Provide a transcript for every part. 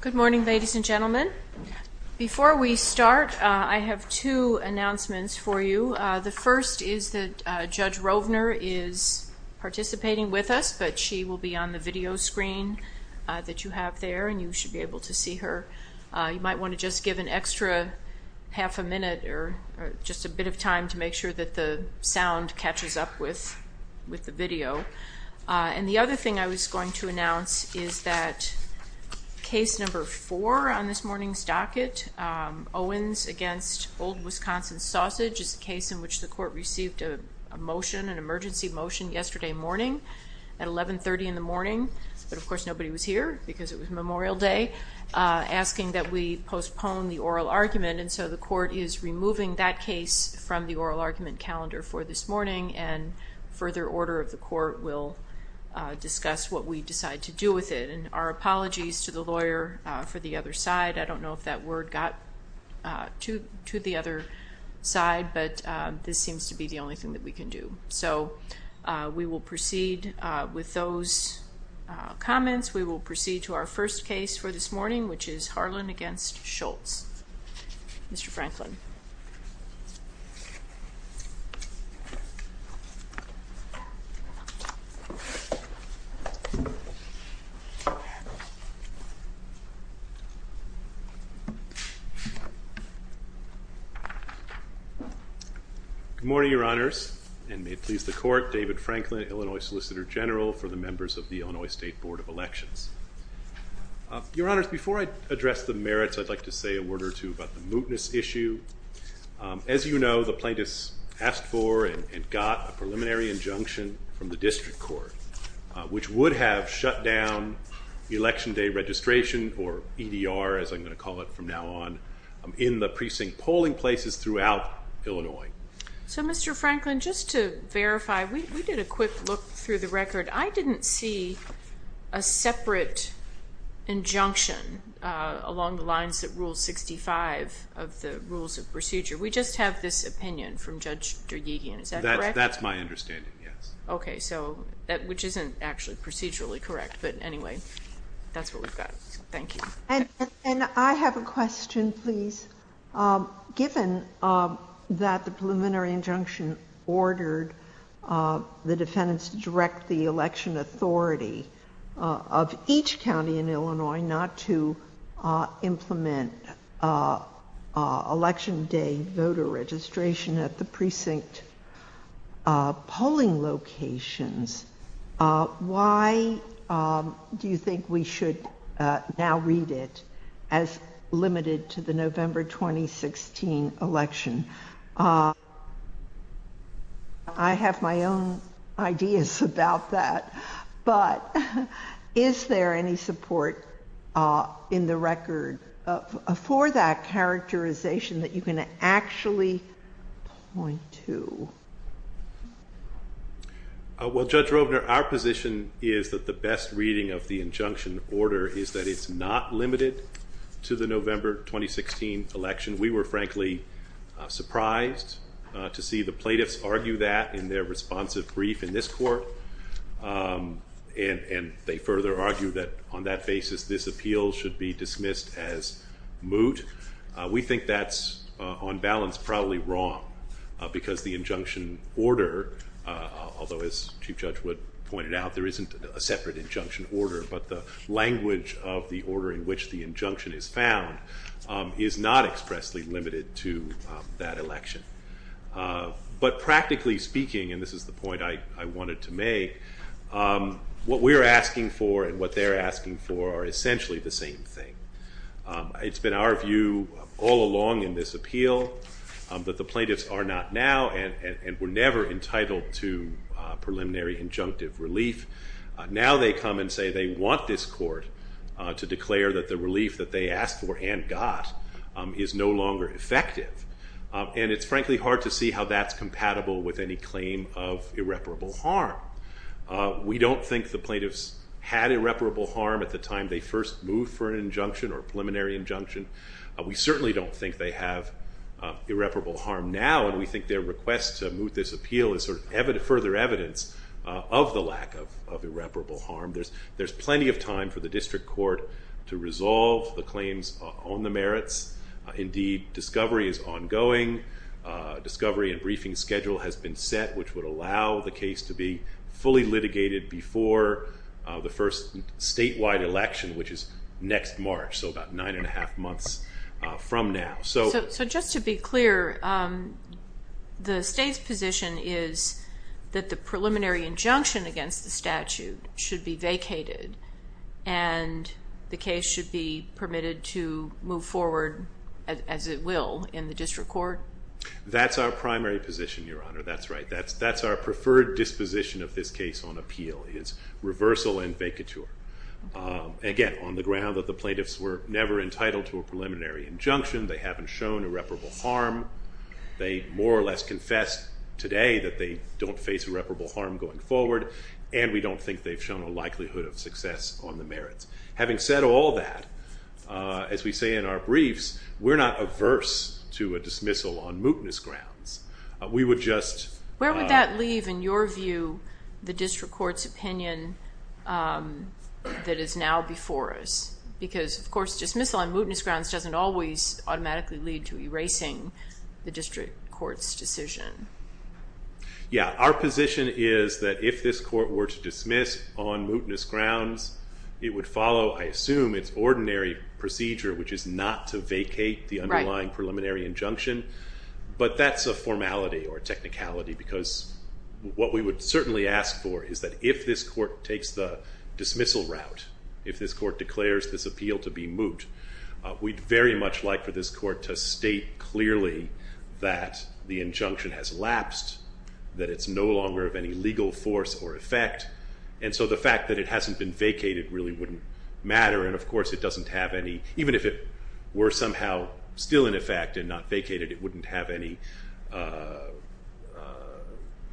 Good morning ladies and gentlemen. Before we start I have two announcements for you. The first is that Judge Rovner is participating with us but she will be on the video screen that you have there and you should be able to see her. You might want to just give an extra half a minute or just a bit of time to make sure that the sound catches up with the video. And the other thing I was going to announce is that case number four on this morning's docket, Owens v. Old Wisconsin Sausage, is the case in which the court received a motion, an emergency motion yesterday morning at 11.30 in the morning, but of course nobody was here because it was Memorial Day, asking that we postpone the oral argument and so the court is removing that case from the oral argument calendar for this morning and further order of the court will discuss what we decide to do with it. And our apologies to the lawyer for the other side. I don't know if that word got to the other side but this seems to be the only thing that we can do. So we will proceed with those comments. We will proceed to our first case for this morning which is Harlan v. Scholz. Mr. Franklin. Good morning, Your Honors, and may it please the court, David Franklin, Illinois Solicitor General for the members of the Illinois State Board of Elections. Your Honors, before I begin, I'd just like to say a word or two about the mootness issue. As you know, the plaintiffs asked for and got a preliminary injunction from the district court which would have shut down election day registration, or EDR as I'm going to call it from now on, in the precinct polling places throughout Illinois. So Mr. Franklin, just to verify, we did a quick look through the record. I didn't see a separate injunction along the lines of Rule 65 of the Rules of Procedure. We just have this opinion from Judge DerGhigian, is that correct? That's my understanding, yes. Okay, so, which isn't actually procedurally correct. But anyway, that's what we've got. Thank you. And I have a question, please. Given that the preliminary injunction ordered the defendants to direct the election authority of each county in Illinois not to implement election day voter registration at the precinct polling locations, why do you think we should now read it as limited to the November 2016 election? I have my own ideas about that, but is there any support in the record for that characterization that you can actually point to? Well, Judge Robner, our position is that the best reading of the injunction order is that it's not limited to the November 2016 election. We were frankly surprised to see the plaintiffs argue that in their responsive brief in this court, and they further argue that on that basis this appeal should be dismissed as moot. We think that's, on balance, probably wrong because the injunction order, although as Chief Judge Wood pointed out, there isn't a separate injunction order, but the language of the order in which the injunction is found is not expressly limited to that election. But practically speaking, and this is the point I wanted to make, what we're asking for and what they're asking for are essentially the same thing. It's been our view all along in this appeal that the plaintiffs are not now, and were never entitled to preliminary injunctive relief. Now they come and say they want this court to declare that the relief that they asked for and got is no longer effective, and it's frankly hard to see how that's compatible with any claim of irreparable harm. We don't think the plaintiffs had irreparable harm at the time they first moved for an injunction or preliminary injunction. We certainly don't think they have irreparable harm now, and we think their request to moot this appeal is further evidence of the lack of irreparable harm. There's plenty of time for the district court to resolve the claims on the merits. Indeed, discovery is ongoing. Discovery and briefing schedule has been set, which would allow the case to be fully litigated before the first statewide election, which is next March, so about nine and a half months from now. So just to be clear, the state's position is that the preliminary injunction against the statute should be vacated, and the case should be permitted to move forward as it will in the district court? That's our primary position, Your Honor. That's right. That's our preferred disposition of this case on the grounds that the plaintiffs were never entitled to a preliminary injunction. They haven't shown irreparable harm. They more or less confessed today that they don't face irreparable harm going forward, and we don't think they've shown a likelihood of success on the merits. Having said all that, as we say in our briefs, we're not averse to a dismissal on mootness grounds. Where would that leave, in your view, the district court's opinion that is now before us? Because, of course, dismissal on mootness grounds doesn't always automatically lead to erasing the district court's decision. Yeah, our position is that if this court were to dismiss on mootness grounds, it would follow, I assume, its ordinary procedure, which is not to vacate the underlying preliminary injunction, but that's a formality or technicality, because what we would certainly ask for is that if this court takes the dismissal route, if this court declares this appeal to be moot, we'd very much like for this court to state clearly that the injunction has lapsed, that it's no longer of any legal force or effect, and so the fact that it hasn't been vacated really wouldn't matter, and of course it doesn't have any, even if it were somehow still in effect and not vacated, it wouldn't have any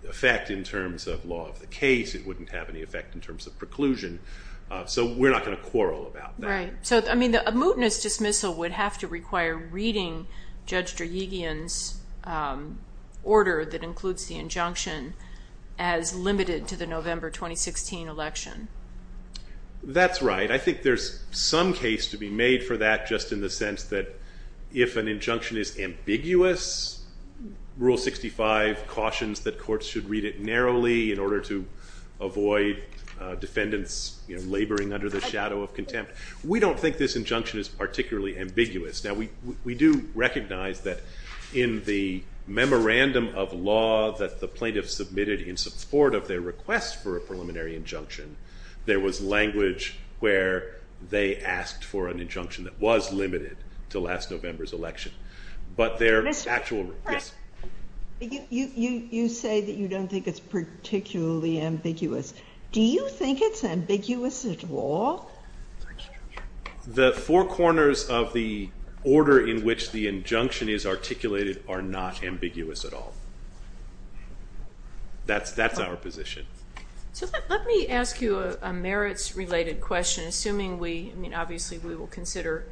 effect in terms of law of the case, it wouldn't have any effect in terms of preclusion, so we're not going to quarrel about that. Right. So, I mean, a mootness dismissal would have to require reading Judge Drayegian's order that includes the injunction as limited to the November 2016 election. That's right. I think there's some case to be made for that just in the sense that if an injunction is ambiguous, Rule 65 cautions that courts should read it narrowly in order to avoid defendants laboring under the shadow of contempt. We don't think this injunction is particularly ambiguous. Now, we do recognize that in the memorandum of law that the plaintiffs submitted in support of their request for a preliminary injunction, there was language where they asked for an injunction that was limited to last November's election, but their actual, yes? You say that you don't think it's particularly ambiguous. Do you think it's ambiguous at all? The four corners of the order in which the injunction is articulated are not ambiguous at all. That's our position. So, let me just ask you a merits-related question, assuming we, I mean, obviously we will consider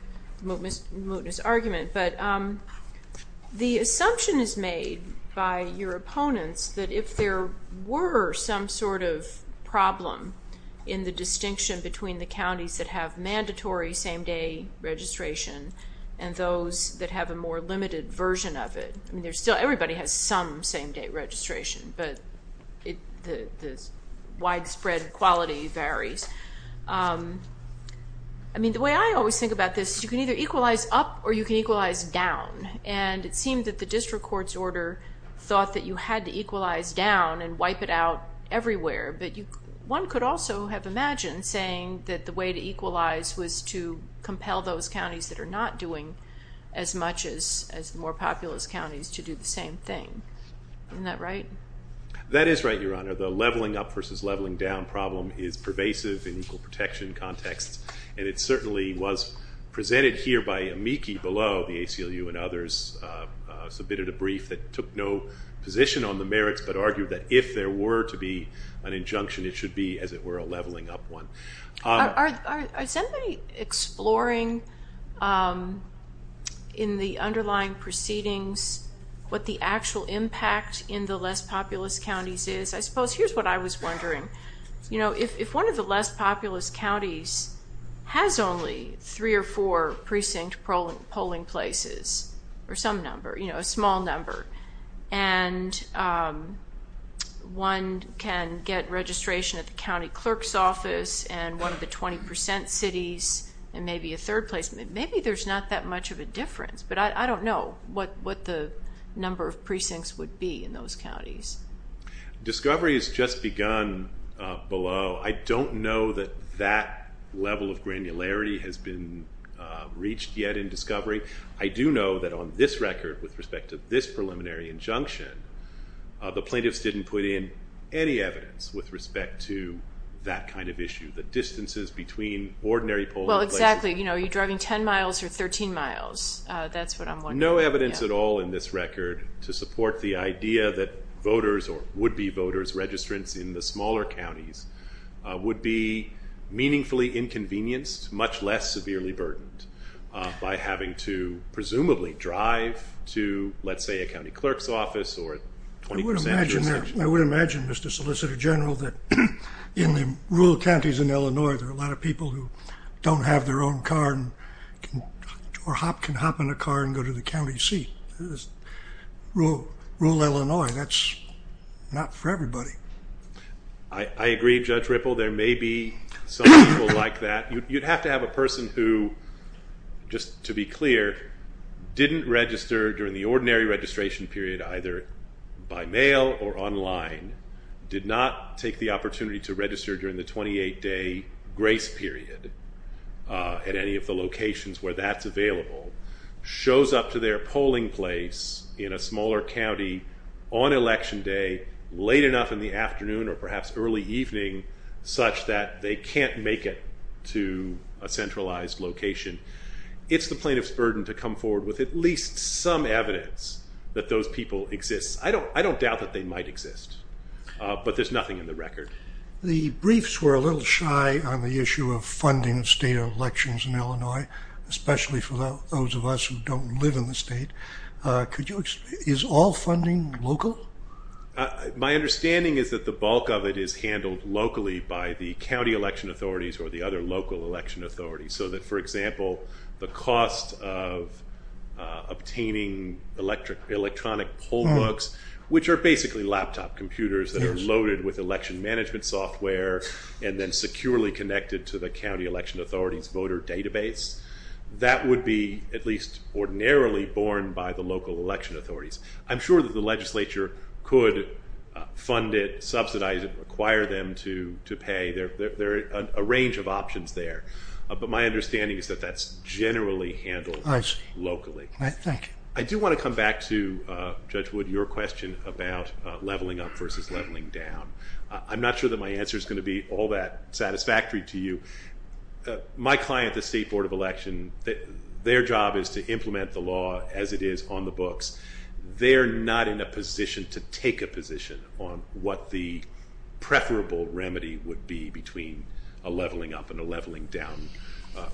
mootness argument, but the assumption is made by your opponents that if there were some sort of problem in the distinction between the counties that have mandatory same-day registration and those that have a more limited version of it, I mean, there's still, everybody has some same-day registration, but the widespread quality varies. I mean, the way I always think about this, you can either equalize up or you can equalize down, and it seemed that the district court's order thought that you had to equalize down and wipe it out everywhere, but one could also have imagined saying that the way to equalize was to compel those counties that are not doing as much as more populous counties to do the same thing. Isn't that right? That is right, Your Honor. The leveling up versus leveling down problem is pervasive in equal protection contexts, and it certainly was presented here by Amiki below, the ACLU and others submitted a brief that took no position on the merits, but argued that if there were to be an injunction, it should be, as it were, a leveling up one. Are somebody exploring in the underlying proceedings what the actual impact in the less populous counties is? I suppose here's what I was wondering. You know, if one of the less populous counties has only three or four precinct polling places or some number, you know, a small number, and one can get registration at the county clerk's office and one of the 20% cities and maybe a third place, maybe there's not that much of a difference, but I don't know what the number of precincts would be in those counties. Discovery has just begun below. I don't know that that level of granularity has been reached yet in Discovery. I do know that on this record with respect to this preliminary injunction, the plaintiffs didn't put in any evidence with respect to that kind of issue, the distances between ordinary polling places. Well, exactly. You know, you're driving 10 miles or 13 miles. That's what I'm wondering. No evidence at all in this record to support the idea that voters or would-be voters, registrants in the smaller counties would be meaningfully inconvenienced, much less severely burdened by having to presumably drive to, let's say, a county clerk's office or a 20% jurisdiction. I would imagine, Mr. Solicitor General, that in the rural counties in Illinois, there are a lot of people who don't have their own car or can hop in a car and go to the county seat. Rural Illinois, that's not for everybody. I agree, Judge Ripple. There may be some people like that. You'd have to have a person who, just to be clear, didn't register during the ordinary registration period either by mail or online, did not take the opportunity to register during the 28-day grace period at any of the locations where that's available, shows up to their polling place in a smaller county on election day, late enough in the afternoon or perhaps early evening, such that they can't make it to a centralized location. It's the plaintiff's burden to come forward with at least some evidence that those people exist. I don't doubt that they might exist, but there's nothing in the record. The briefs were a little shy on the issue of funding state elections in Illinois, especially for those of us who don't live in the state. Is all funding local? My understanding is that the bulk of it is handled locally by the county election authorities or the other local election authorities, so that, for example, the cost of obtaining electronic poll books, which are basically laptop computers that are loaded with election management software and then securely connected to the county election authorities voter database, that would be at least ordinarily borne by the local election authorities. I'm sure that the legislature could fund it, subsidize it, require them to pay. There are a range of options there, but my understanding is that that's generally handled locally. I do want to come back to, Judge Wood, your question about leveling up versus leveling down. I'm not sure that my answer is going to be all that satisfactory to you. My client, the State Board of Election, their job is to implement the law as it is on the books. They're not in a position to take a position on what the preferable remedy would be between a leveling up and a leveling down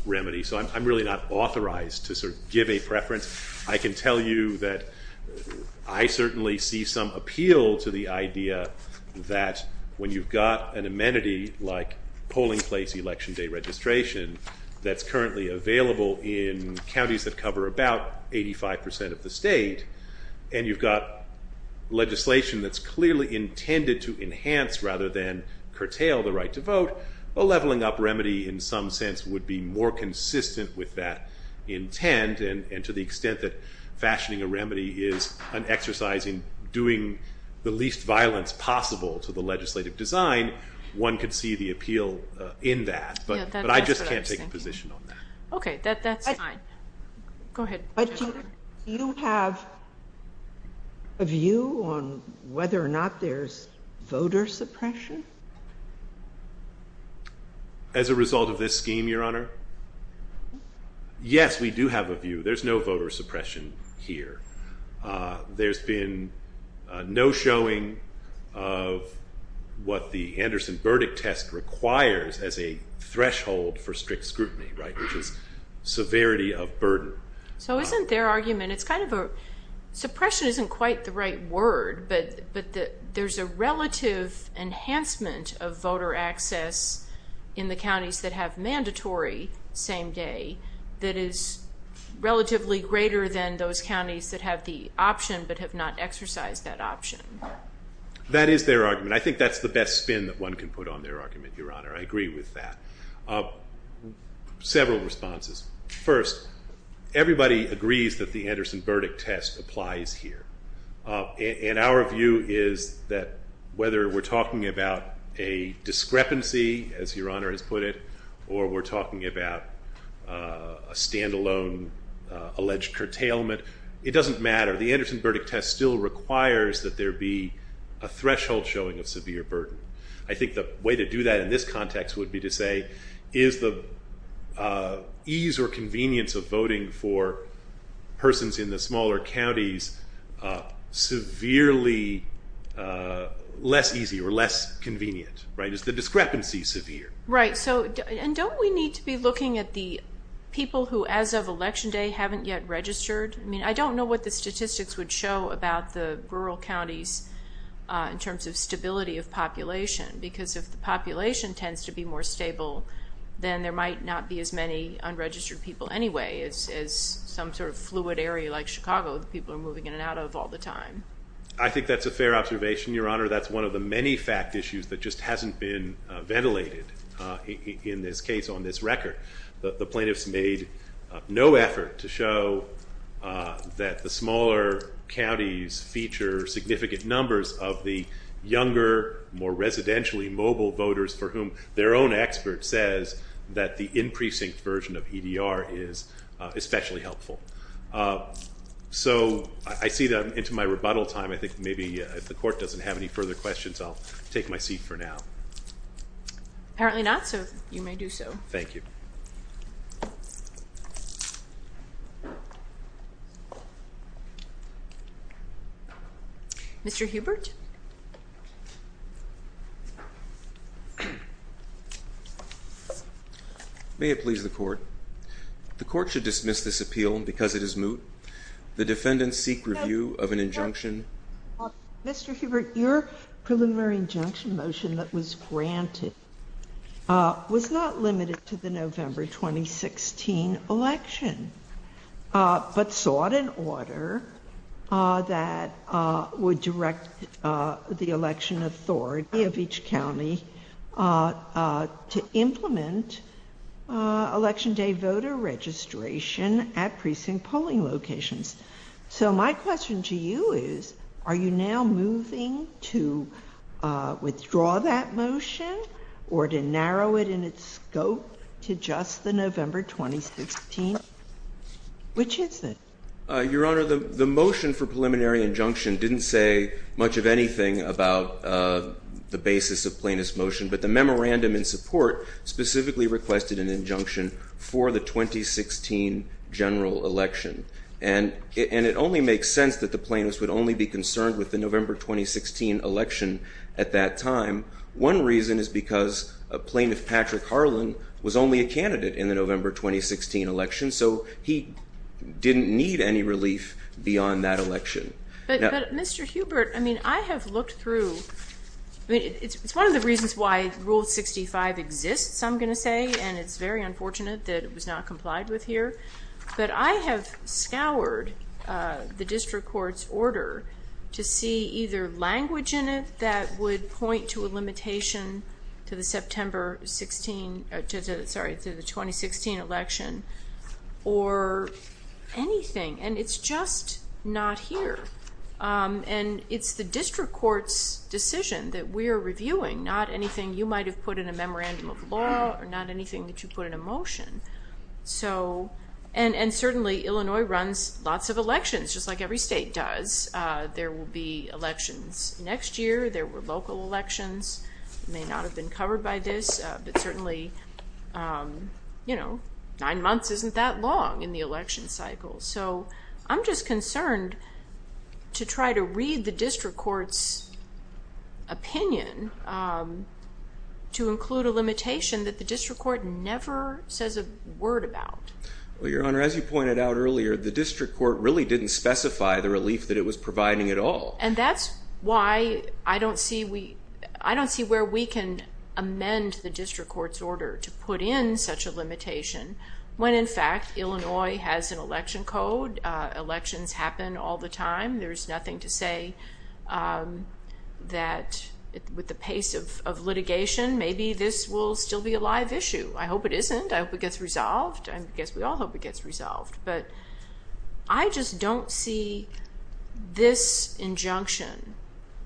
remedy, so I'm really not authorized to sort of give a preference. I can tell you that I certainly see some appeal to the idea that when you've got an amenity like polling place election day registration that's currently available in counties that cover about 85 percent of the state, and you've got legislation that's clearly intended to enhance rather than curtail the right to vote, a leveling up remedy in some sense would be more consistent with that intent, and to the extent that fashioning a remedy is an exercise in doing the least violence possible to the legislative design, one could see the appeal in that, but I just can't take a position on that. Okay, that's fine. Go ahead. But do you have a view on whether or not there's voter suppression? As a result of this scheme, Your Honor? Yes, we do have a view. There's no voter suppression here. There's been no showing of what the Anderson verdict test requires as a threshold for strict scrutiny, right, which is severity of burden. So isn't their argument, it's kind of a, suppression isn't quite the right word, but there's a relative enhancement of voter access in the counties that have mandatory same day that is relatively greater than those counties that have the option but have not exercised that option. That is their argument. I think that's the best spin that one can put on their argument, Your Honor. I agree with that. Several responses. First, everybody agrees that the Anderson verdict test, whether we're talking about a discrepancy, as Your Honor has put it, or we're talking about a standalone alleged curtailment, it doesn't matter. The Anderson verdict test still requires that there be a threshold showing of severe burden. I think the way to do that in this context would be to say, is the ease or convenience of voting for persons in the less easy or less convenient, right? Is the discrepancy severe? Right. And don't we need to be looking at the people who as of election day haven't yet registered? I mean, I don't know what the statistics would show about the rural counties in terms of stability of population because if the population tends to be more stable then there might not be as many unregistered people anyway as some sort of fluid area like Chicago that people are moving in and out of all the time. I think that's a fair observation, Your Honor. That's one of the many fact issues that just hasn't been ventilated in this case on this record. The plaintiffs made no effort to show that the smaller counties feature significant numbers of the younger, more residentially mobile voters for whom their own expert says that the in-precinct version of EDR is especially helpful. So I see that I'm into my rebuttal time. I think maybe if the Court doesn't have any further questions, I'll take my seat for now. Apparently not, so you may do so. Thank you. Mr. Hubert. May it please the Court. The Court should seal because it is moot. The defendants seek review of an injunction. Mr. Hubert, your preliminary injunction motion that was granted was not limited to the November 2016 election but sought an order that would direct the election authority of each county to implement election day voter registration at precinct polling locations. So my question to you is, are you now moving to withdraw that motion or to narrow it in its scope to just the November 2016? Which is it? Your Honor, the motion for preliminary injunction didn't say much of anything about the basis of plaintiff's motion, but the memorandum in support specifically requested an injunction for the 2016 general election. And it only makes sense that the plaintiffs would only be concerned with the November 2016 election at that time. One reason is because Plaintiff Patrick Harlan was only a candidate in the November 2016 election, so he didn't need any relief beyond that election. But Mr. Hubert, I mean, I have looked through. It's one of the reasons why Rule 65 exists, I'm going to say, and it's very unfortunate that it was not complied with here. But I have scoured the District Court's order to see either language in it that would point to a limitation to the September 16, sorry, to the 2016 election or anything. And it's just not here. And it's the District Court's decision that we are reviewing, not anything you might have put in a memorandum of law or not anything that you put in a motion. So, and certainly Illinois runs lots of elections just like every state does. There will be elections that may not have been covered by this, but certainly, you know, nine months isn't that long in the election cycle. So I'm just concerned to try to read the District Court's opinion to include a limitation that the District Court never says a word about. Well, Your Honor, as you pointed out earlier, the District Court really didn't specify the relief that it was providing at all. And that's why I don't see where we can amend the District Court's order to put in such a limitation when, in fact, Illinois has an election code. Elections happen all the time. There's nothing to say that with the pace of litigation, maybe this will still be a live issue. I hope it isn't. I hope it gets resolved. But I just don't see this injunction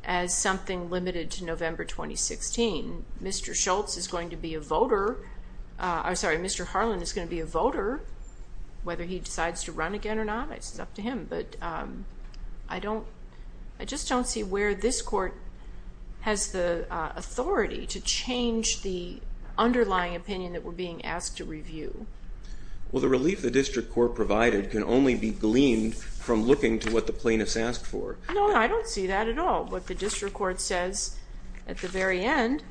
as something limited to November 2016. Mr. Schultz is going to be a voter. I'm sorry, Mr. Harlan is going to be a voter. Whether he decides to run again or not, it's up to him. But I don't, I just don't see where this court has the authority to change the underlying opinion that we're being asked to review. Well, the relief the District Court provided can only be gleaned from looking to what the plaintiffs asked for. No, I don't see that at all. What the District Court says at the very end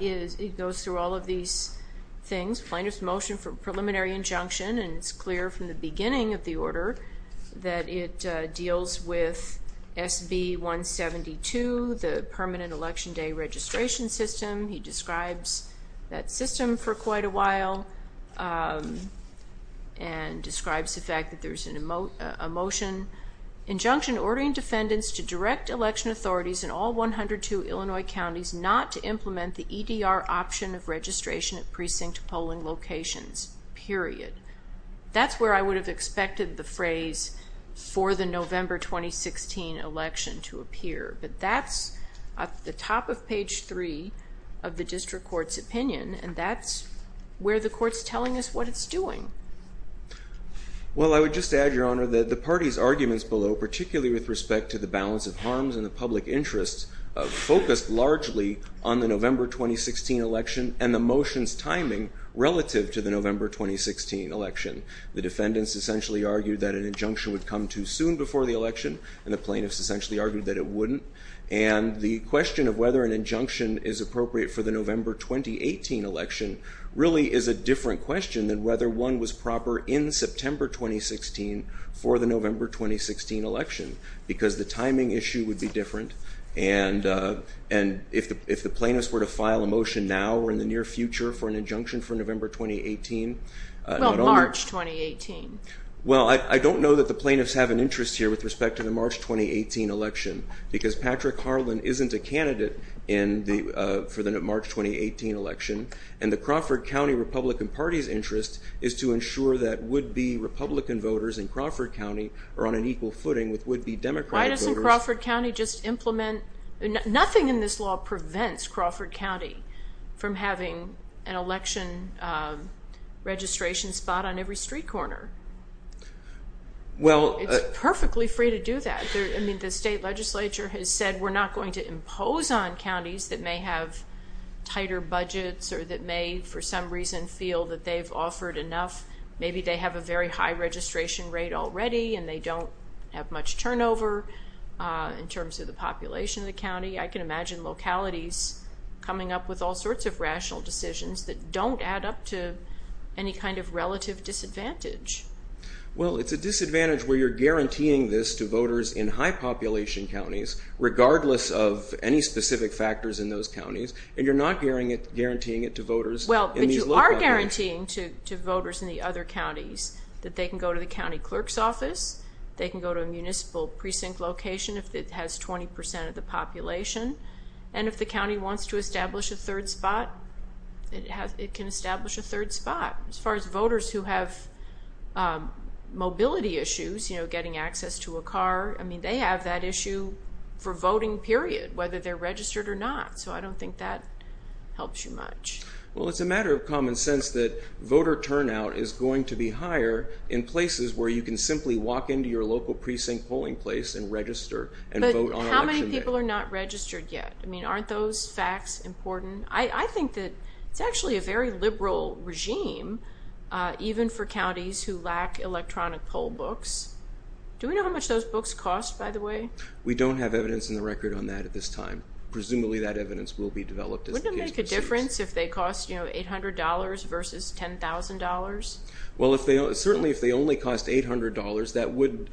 is it goes through all of these things. Plaintiff's motion for preliminary injunction and it's clear from the beginning of the order that it deals with SB 172, the permanent Election Day registration system. He describes that system for quite a while and describes the fact that there's a motion, injunction ordering defendants to direct election authorities in all 102 Illinois counties not to implement the EDR option of registration at precinct polling locations, period. That's where I would have expected the phrase for the November 2016 election to appear. But that's at the top of page 3 of the District Court's opinion and that's where the court's telling us what it's doing. Well, I would just add, Your Honor, that the party's arguments below, particularly with respect to the balance of harms and the public interest, focused largely on the November 2016 election and the motion's timing relative to the November 2016 election. The defendants essentially argued that an injunction would come too soon before the election and the plaintiffs essentially argued that it wouldn't. And the question of whether an injunction is appropriate for the November 2018 election really is a different question than whether one was proper in September 2016 for the November 2016 election because the timing issue would be different and if the plaintiffs were to file a motion now or in the near future for an injunction for November 2018. Well, March Well, I don't know that the plaintiffs have an interest here with respect to the March 2018 election because Patrick Harlan isn't a candidate for the March 2018 election and the Crawford County Republican Party's interest is to ensure that would-be Republican voters in Crawford County are on an equal footing with would-be Democratic voters. Why doesn't Crawford County just implement, nothing in this law prevents Crawford County from having an election registration spot on every street corner? Well, It's perfectly free to do that. I mean, the state legislature has said we're not going to impose on counties that may have tighter budgets or that may for some reason feel that they've offered enough. Maybe they have a very high registration rate already and they don't have much turnover in terms of the population of the county. I can imagine localities coming up with all sorts of rational decisions that don't add up to any kind of relative disadvantage. Well, it's a disadvantage where you're guaranteeing this to voters in high population counties regardless of any specific factors in those counties and you're not guaranteeing it to voters in these localities. Well, but you are guaranteeing to voters in the other counties that they can go to the county clerk's office, they can go to a municipal precinct location if it has 20% of the third spot. It can establish a third spot. As far as voters who have mobility issues, you know, getting access to a car, I mean, they have that issue for voting period, whether they're registered or not. So I don't think that helps you much. Well, it's a matter of common sense that voter turnout is going to be higher in places where you can simply walk into your local precinct polling place and register and vote on election day. How many people are not registered yet? I mean, aren't those facts important? I think that it's actually a very liberal regime, even for counties who lack electronic poll books. Do we know how much those books cost, by the way? We don't have evidence in the record on that at this time. Presumably that evidence will be developed as the case proceeds. Wouldn't it make a difference if they cost, you know, $800 versus $10,000? Well, certainly if they only cost $800, that would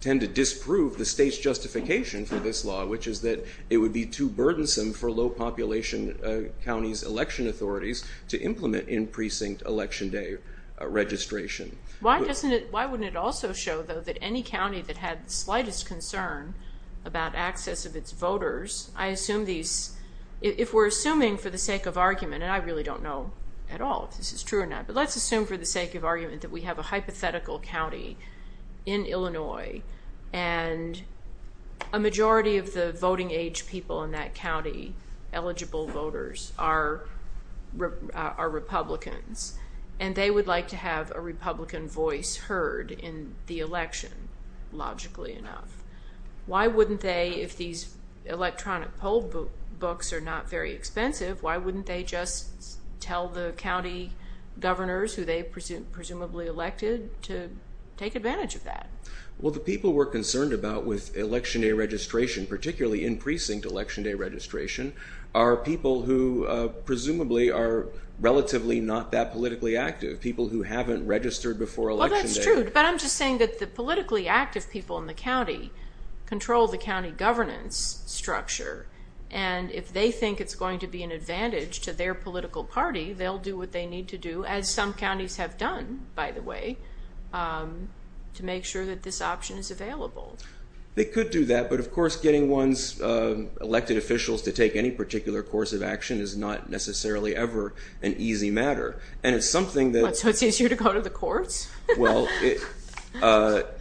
tend to disprove the state's justification for this law, which is that it would be too burdensome for low-population counties' election authorities to implement in-precinct election day registration. Why doesn't it, why wouldn't it also show, though, that any county that had the slightest concern about access of its voters, I assume these, if we're assuming for the sake of argument, and I really don't know at all if this is true or not, but let's assume for the sake of argument that we have a hypothetical county in Illinois, and a majority of the voting age people in that county, eligible voters, are Republicans, and they would like to have a Republican voice heard in the election, logically enough. Why wouldn't they, if these electronic poll books are not very expensive, why wouldn't they just tell the county governors who they presumably elected to take advantage of that? Well, the people we're concerned about with election day registration, particularly in-precinct election day registration, are people who presumably are relatively not that politically active, people who haven't registered before election day. Well, that's true, but I'm just saying that the politically active people in the county control the county governance structure, and if they think it's going to be an advantage to their political party, they'll do what they need to do, as some counties have done, by the way, to make sure that this option is available. They could do that, but of course getting one's elected officials to take any particular course of action is not necessarily ever an easy matter, and it's something that... So it's easier to go to the courts? Well,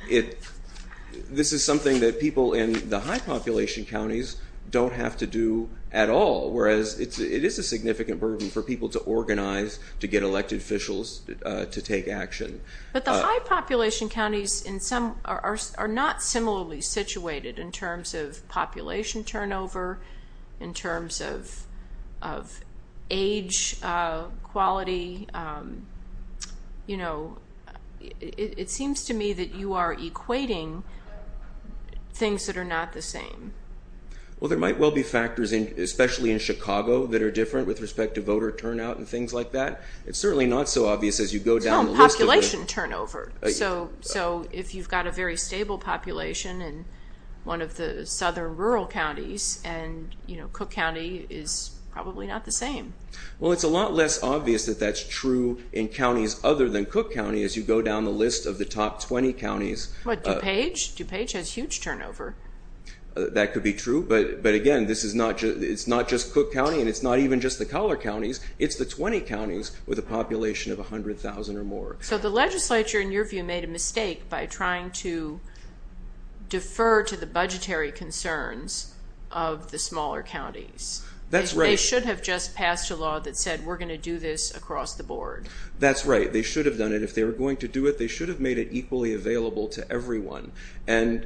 this is something that people in the high-population counties don't have to do at all, whereas it is a significant burden for people to organize to get elected officials to take action. But the high-population counties are not similarly situated in terms of population turnover, in terms of age, quality. It seems to me that you are equating things that are not the same. Well, there might well be factors, especially in Chicago, that are different with respect to voter turnout and things like that. It's certainly not so obvious as you go down the list of... No, population turnover. So if you've got a very stable population in one of the southern rural counties, and Cook County is probably not the same. Well, it's a lot less obvious that that's true in counties other than Cook County as you go down the list of the top 20 counties. What, DuPage? DuPage has huge turnover. That could be true, but again, it's not just Cook County, and it's not even just the collar counties. It's the 20 counties with a population of 100,000 or more. So the legislature, in your view, made a mistake by trying to defer to the budgetary concerns of the smaller counties. That's right. They should have just passed a law that said we're going to do this across the board. That's right. They should have done it. If they were going to do it, they should have made it equally available to everyone. And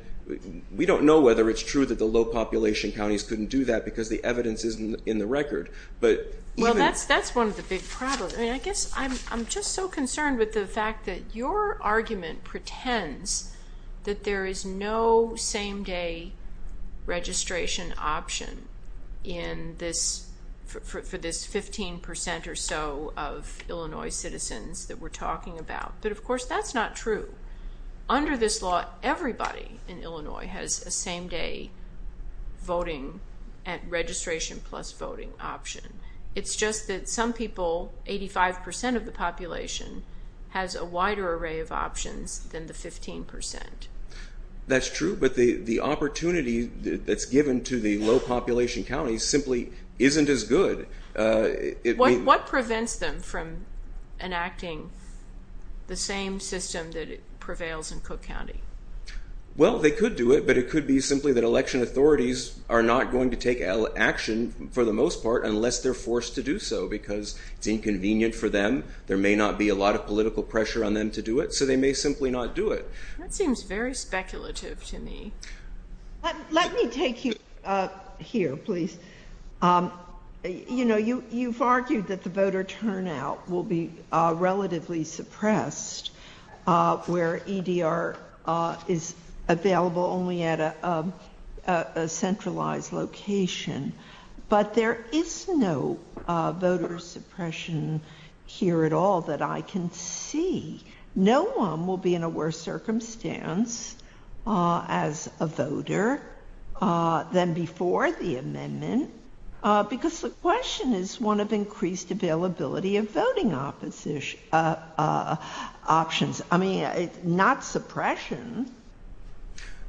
we don't know whether it's true that the low-population counties couldn't do that because the evidence isn't in the record. Well, that's one of the big problems. I guess I'm just so concerned with the fact that your argument pretends that there is no same-day registration option for this 15% or so of Illinois citizens that we're talking about. But, of course, that's not true. Under this law, everybody in Illinois has a same-day voting at registration plus voting option. It's just that some people, 85% of the population, has a wider array of options than the 15%. That's true, but the opportunity that's given to the low-population counties simply isn't as good. What prevents them from enacting the same system that prevails in Cook County? Well, they could do it, but it could be simply that election authorities are not going to take action, for the most part, unless they're forced to do so because it's inconvenient for them, there may not be a lot of political pressure on them to do it, so they may simply not do it. That seems very speculative to me. Let me take you here, please. You know, you've argued that the voter turnout will be relatively suppressed where EDR is available only at a centralized location, but there is no voter suppression here at all that I can see. No one will be in a worse circumstance as a voter than before the amendment because the question is one of increased availability of voting options, not suppression.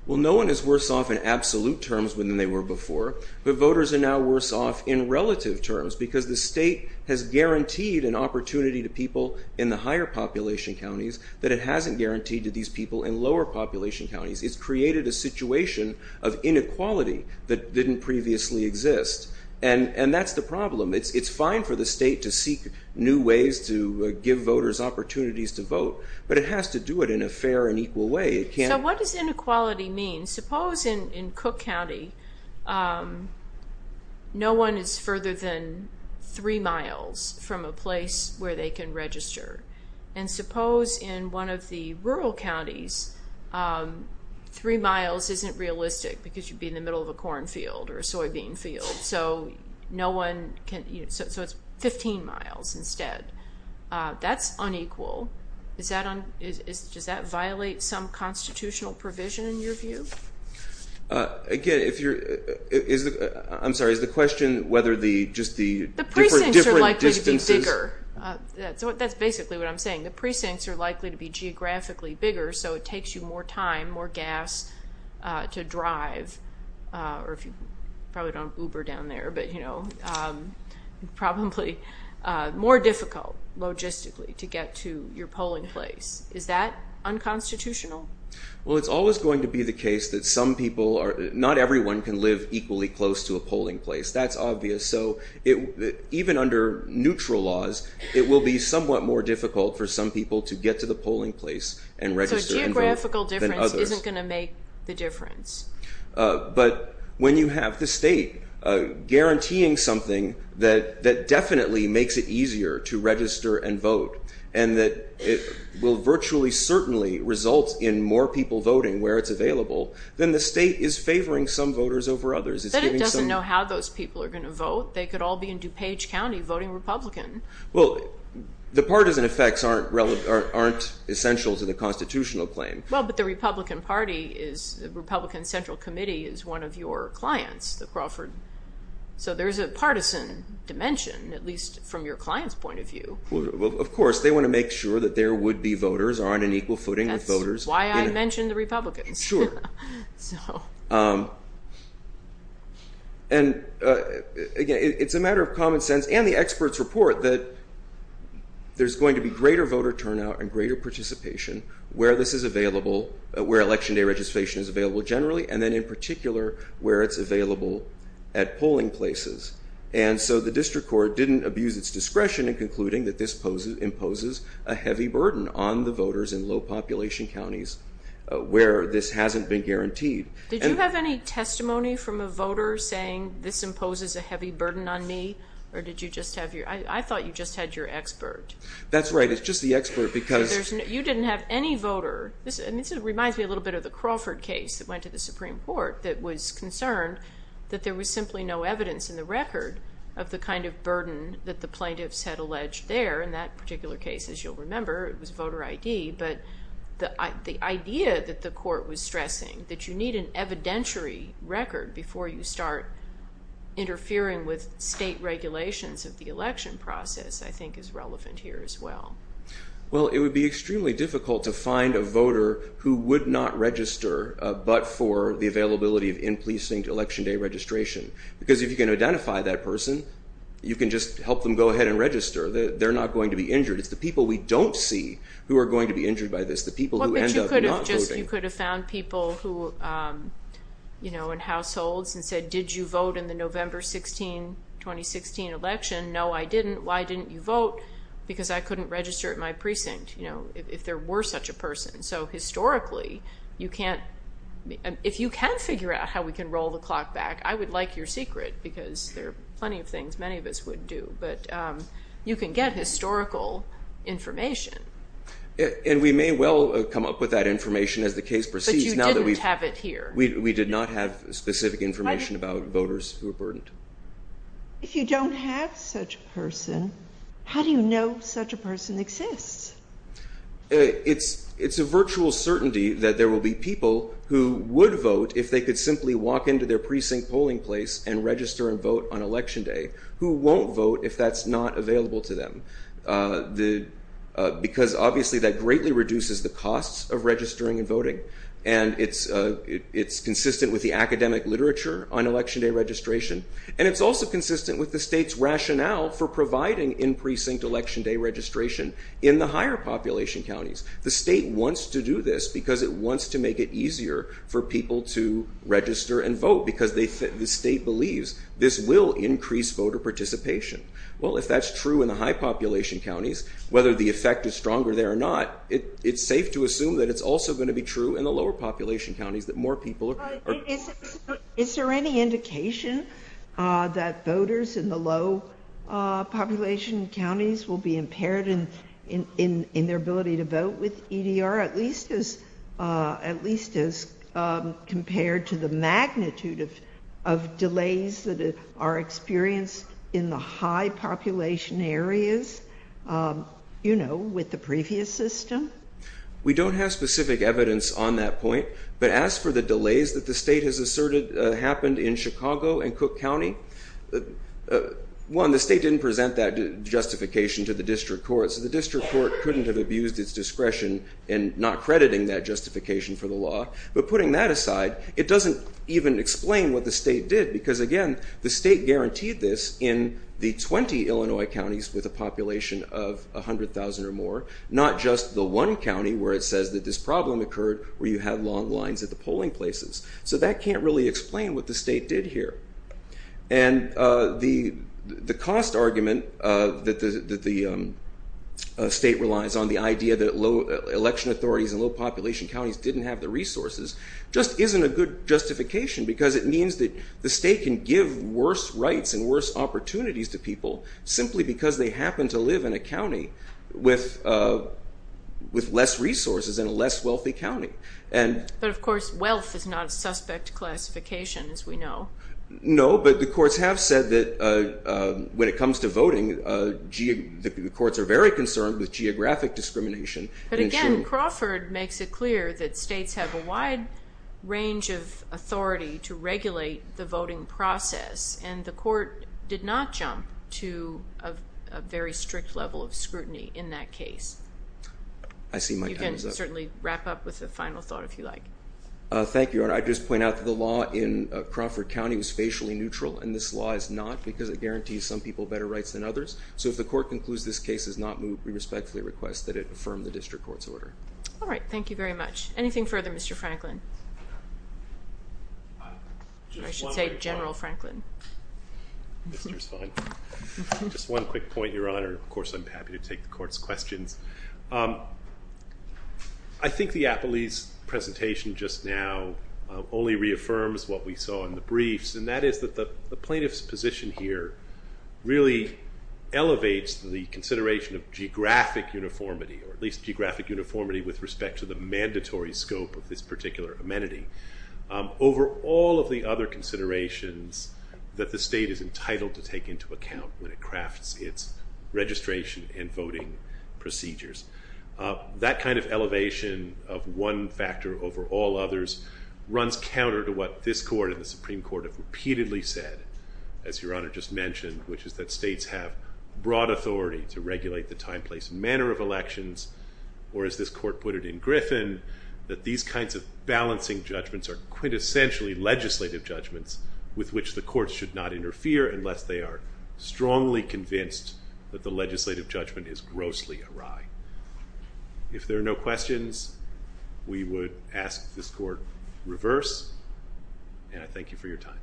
Well, no one is worse off in absolute terms than they were before, but voters are now worse off in relative terms because the state has guaranteed an opportunity to people in the higher-population counties that it hasn't guaranteed to these people in lower-population counties. It's created a situation of inequality that didn't previously exist, and that's the problem. It's fine for the state to seek new ways to give voters opportunities to vote, but it has to do it in a fair and equal way. So what does inequality mean? Suppose in Cook County no one is further than three miles from a place where they can register, and suppose in one of the rural counties three miles isn't realistic because you'd be in the middle of a corn field or a soybean field, so it's 15 miles instead. That's unequal. Does that violate some constitutional provision in your view? I'm sorry. Is the question whether just the different distances? The precincts are likely to be bigger. That's basically what I'm saying. The precincts are likely to be geographically bigger, so it takes you more time, more gas to drive, or if you probably don't have Uber down there, but probably more difficult logistically to get to your polling place. Is that unconstitutional? Well, it's always going to be the case that some people are, not everyone can live equally close to a polling place. That's obvious. Even under neutral laws it will be somewhat more difficult for some people to get to the polling place and register and vote than others. So geographical difference isn't going to make the difference. But when you have the state guaranteeing something that definitely makes it easier to register and vote and that it will virtually certainly result in more people voting where it's available, then the state is favoring some voters over others. But it doesn't know how those people are going to vote. They could all be in DuPage County voting Republican. Well, the partisan effects aren't essential to the constitutional claim. Well, but the Republican Central Committee is one of your clients, the Crawford. So there's a partisan dimension, at least from your client's point of view. Well, of course. They want to make sure that there would be voters on an equal footing with voters. That's why I mentioned the Republicans. Sure. And, again, it's a matter of common sense and the experts' report that there's going to be greater voter turnout and greater participation where this is available, where Election Day registration is available generally, and then in particular where it's available at polling places. And so the district court didn't abuse its discretion in concluding that this imposes a heavy burden on the voters in low-population counties where this hasn't been guaranteed. Did you have any testimony from a voter saying this imposes a heavy burden on me? Or did you just have your – I thought you just had your expert. That's right. It's just the expert because – You didn't have any voter. This reminds me a little bit of the Crawford case that went to the Supreme Court that was concerned that there was simply no evidence in the record of the kind of burden that the plaintiffs had alleged there in that particular case, as you'll remember. It was voter ID. But the idea that the court was stressing, that you need an evidentiary record before you start interfering with state regulations of the election process, I think is relevant here as well. Well, it would be extremely difficult to find a voter who would not register but for the availability of in-policing Election Day registration because if you can identify that person, you can just help them go ahead and register. They're not going to be injured. It's the people we don't see who are going to be injured by this, the people who end up not voting. But you could have found people in households and said, did you vote in the November 16, 2016 election? No, I didn't. Why didn't you vote? Because I couldn't register at my precinct if there were such a person. So historically, you can't – if you can figure out how we can roll the clock back, I would like your secret because there are plenty of things many of us would do. But you can get historical information. And we may well come up with that information as the case proceeds. But you didn't have it here. We did not have specific information about voters who were burned. If you don't have such a person, how do you know such a person exists? It's a virtual certainty that there will be people who would vote if they could simply walk into their precinct polling place and register and vote on Election Day who won't vote if that's not available to them. Because obviously that greatly reduces the costs of registering and voting. And it's consistent with the academic literature on Election Day registration. And it's also consistent with the state's rationale for providing in-precinct Election Day registration in the higher population counties. The state wants to do this because it wants to make it easier for people to register and vote because the state believes this will increase voter participation. Well, if that's true in the high population counties, whether the effect is stronger there or not, it's safe to assume that it's also going to be true in the lower population counties that more people are going to vote. Is there any indication that voters in the low population counties will be impaired in their ability to vote with EDR, at least as compared to the magnitude of delays that are experienced in the high population areas, you know, with the previous system? We don't have specific evidence on that point. But as for the delays that the state has asserted happened in Chicago and Cook County, one, the state didn't present that justification to the district courts. The district court couldn't have abused its discretion in not crediting that justification for the law. But putting that aside, it doesn't even explain what the state did because, again, the state guaranteed this in the 20 Illinois counties with a population of 100,000 or more, not just the one county where it says that this problem occurred where you had long lines at the polling places. So that can't really explain what the state did here. And the cost argument that the state relies on, the idea that election authorities in low population counties didn't have the resources, just isn't a good justification because it means that the state can give worse rights and worse opportunities to people simply because they happen to live in a county with less resources and a less wealthy county. But, of course, wealth is not a suspect classification, as we know. No, but the courts have said that when it comes to voting, the courts are very concerned with geographic discrimination. But again, Crawford makes it clear that states have a wide range of authority to regulate the voting process, and the court did not jump to a very strict level of scrutiny in that case. I see my time is up. You can certainly wrap up with a final thought, if you like. Thank you, Your Honor. I'd just point out that the law in Crawford County was facially neutral, and this law is not because it guarantees some people better rights than others. So if the court concludes this case is not moved, we respectfully request that it affirm the district court's order. All right. Thank you very much. Anything further, Mr. Franklin? I should say General Franklin. Mr. Spahn. Just one quick point, Your Honor. Of course, I'm happy to take the court's questions. I think the appellee's presentation just now only reaffirms what we saw in the briefs, and that is that the plaintiff's position here really elevates the consideration of geographic uniformity, or at least geographic uniformity with respect to the mandatory scope of this particular amenity over all of the other considerations that the state is entitled to take into account when it crafts its registration and voting procedures. That kind of elevation of one factor over all others runs counter to what this court and the Supreme Court have repeatedly said, as Your Honor just mentioned, which is that states have broad authority to regulate the time, place, and manner of elections, or as this court put it in Griffin, that these kinds of balancing judgments are quintessentially legislative judgments with which the courts should not interfere unless they are strongly convinced that the legislative judgment is grossly awry. If there are no questions, we would ask this court reverse, and I thank you for your time.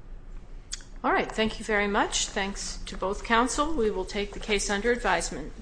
All right. Thank you very much. Thanks to both counsel. We will take the case under advisement.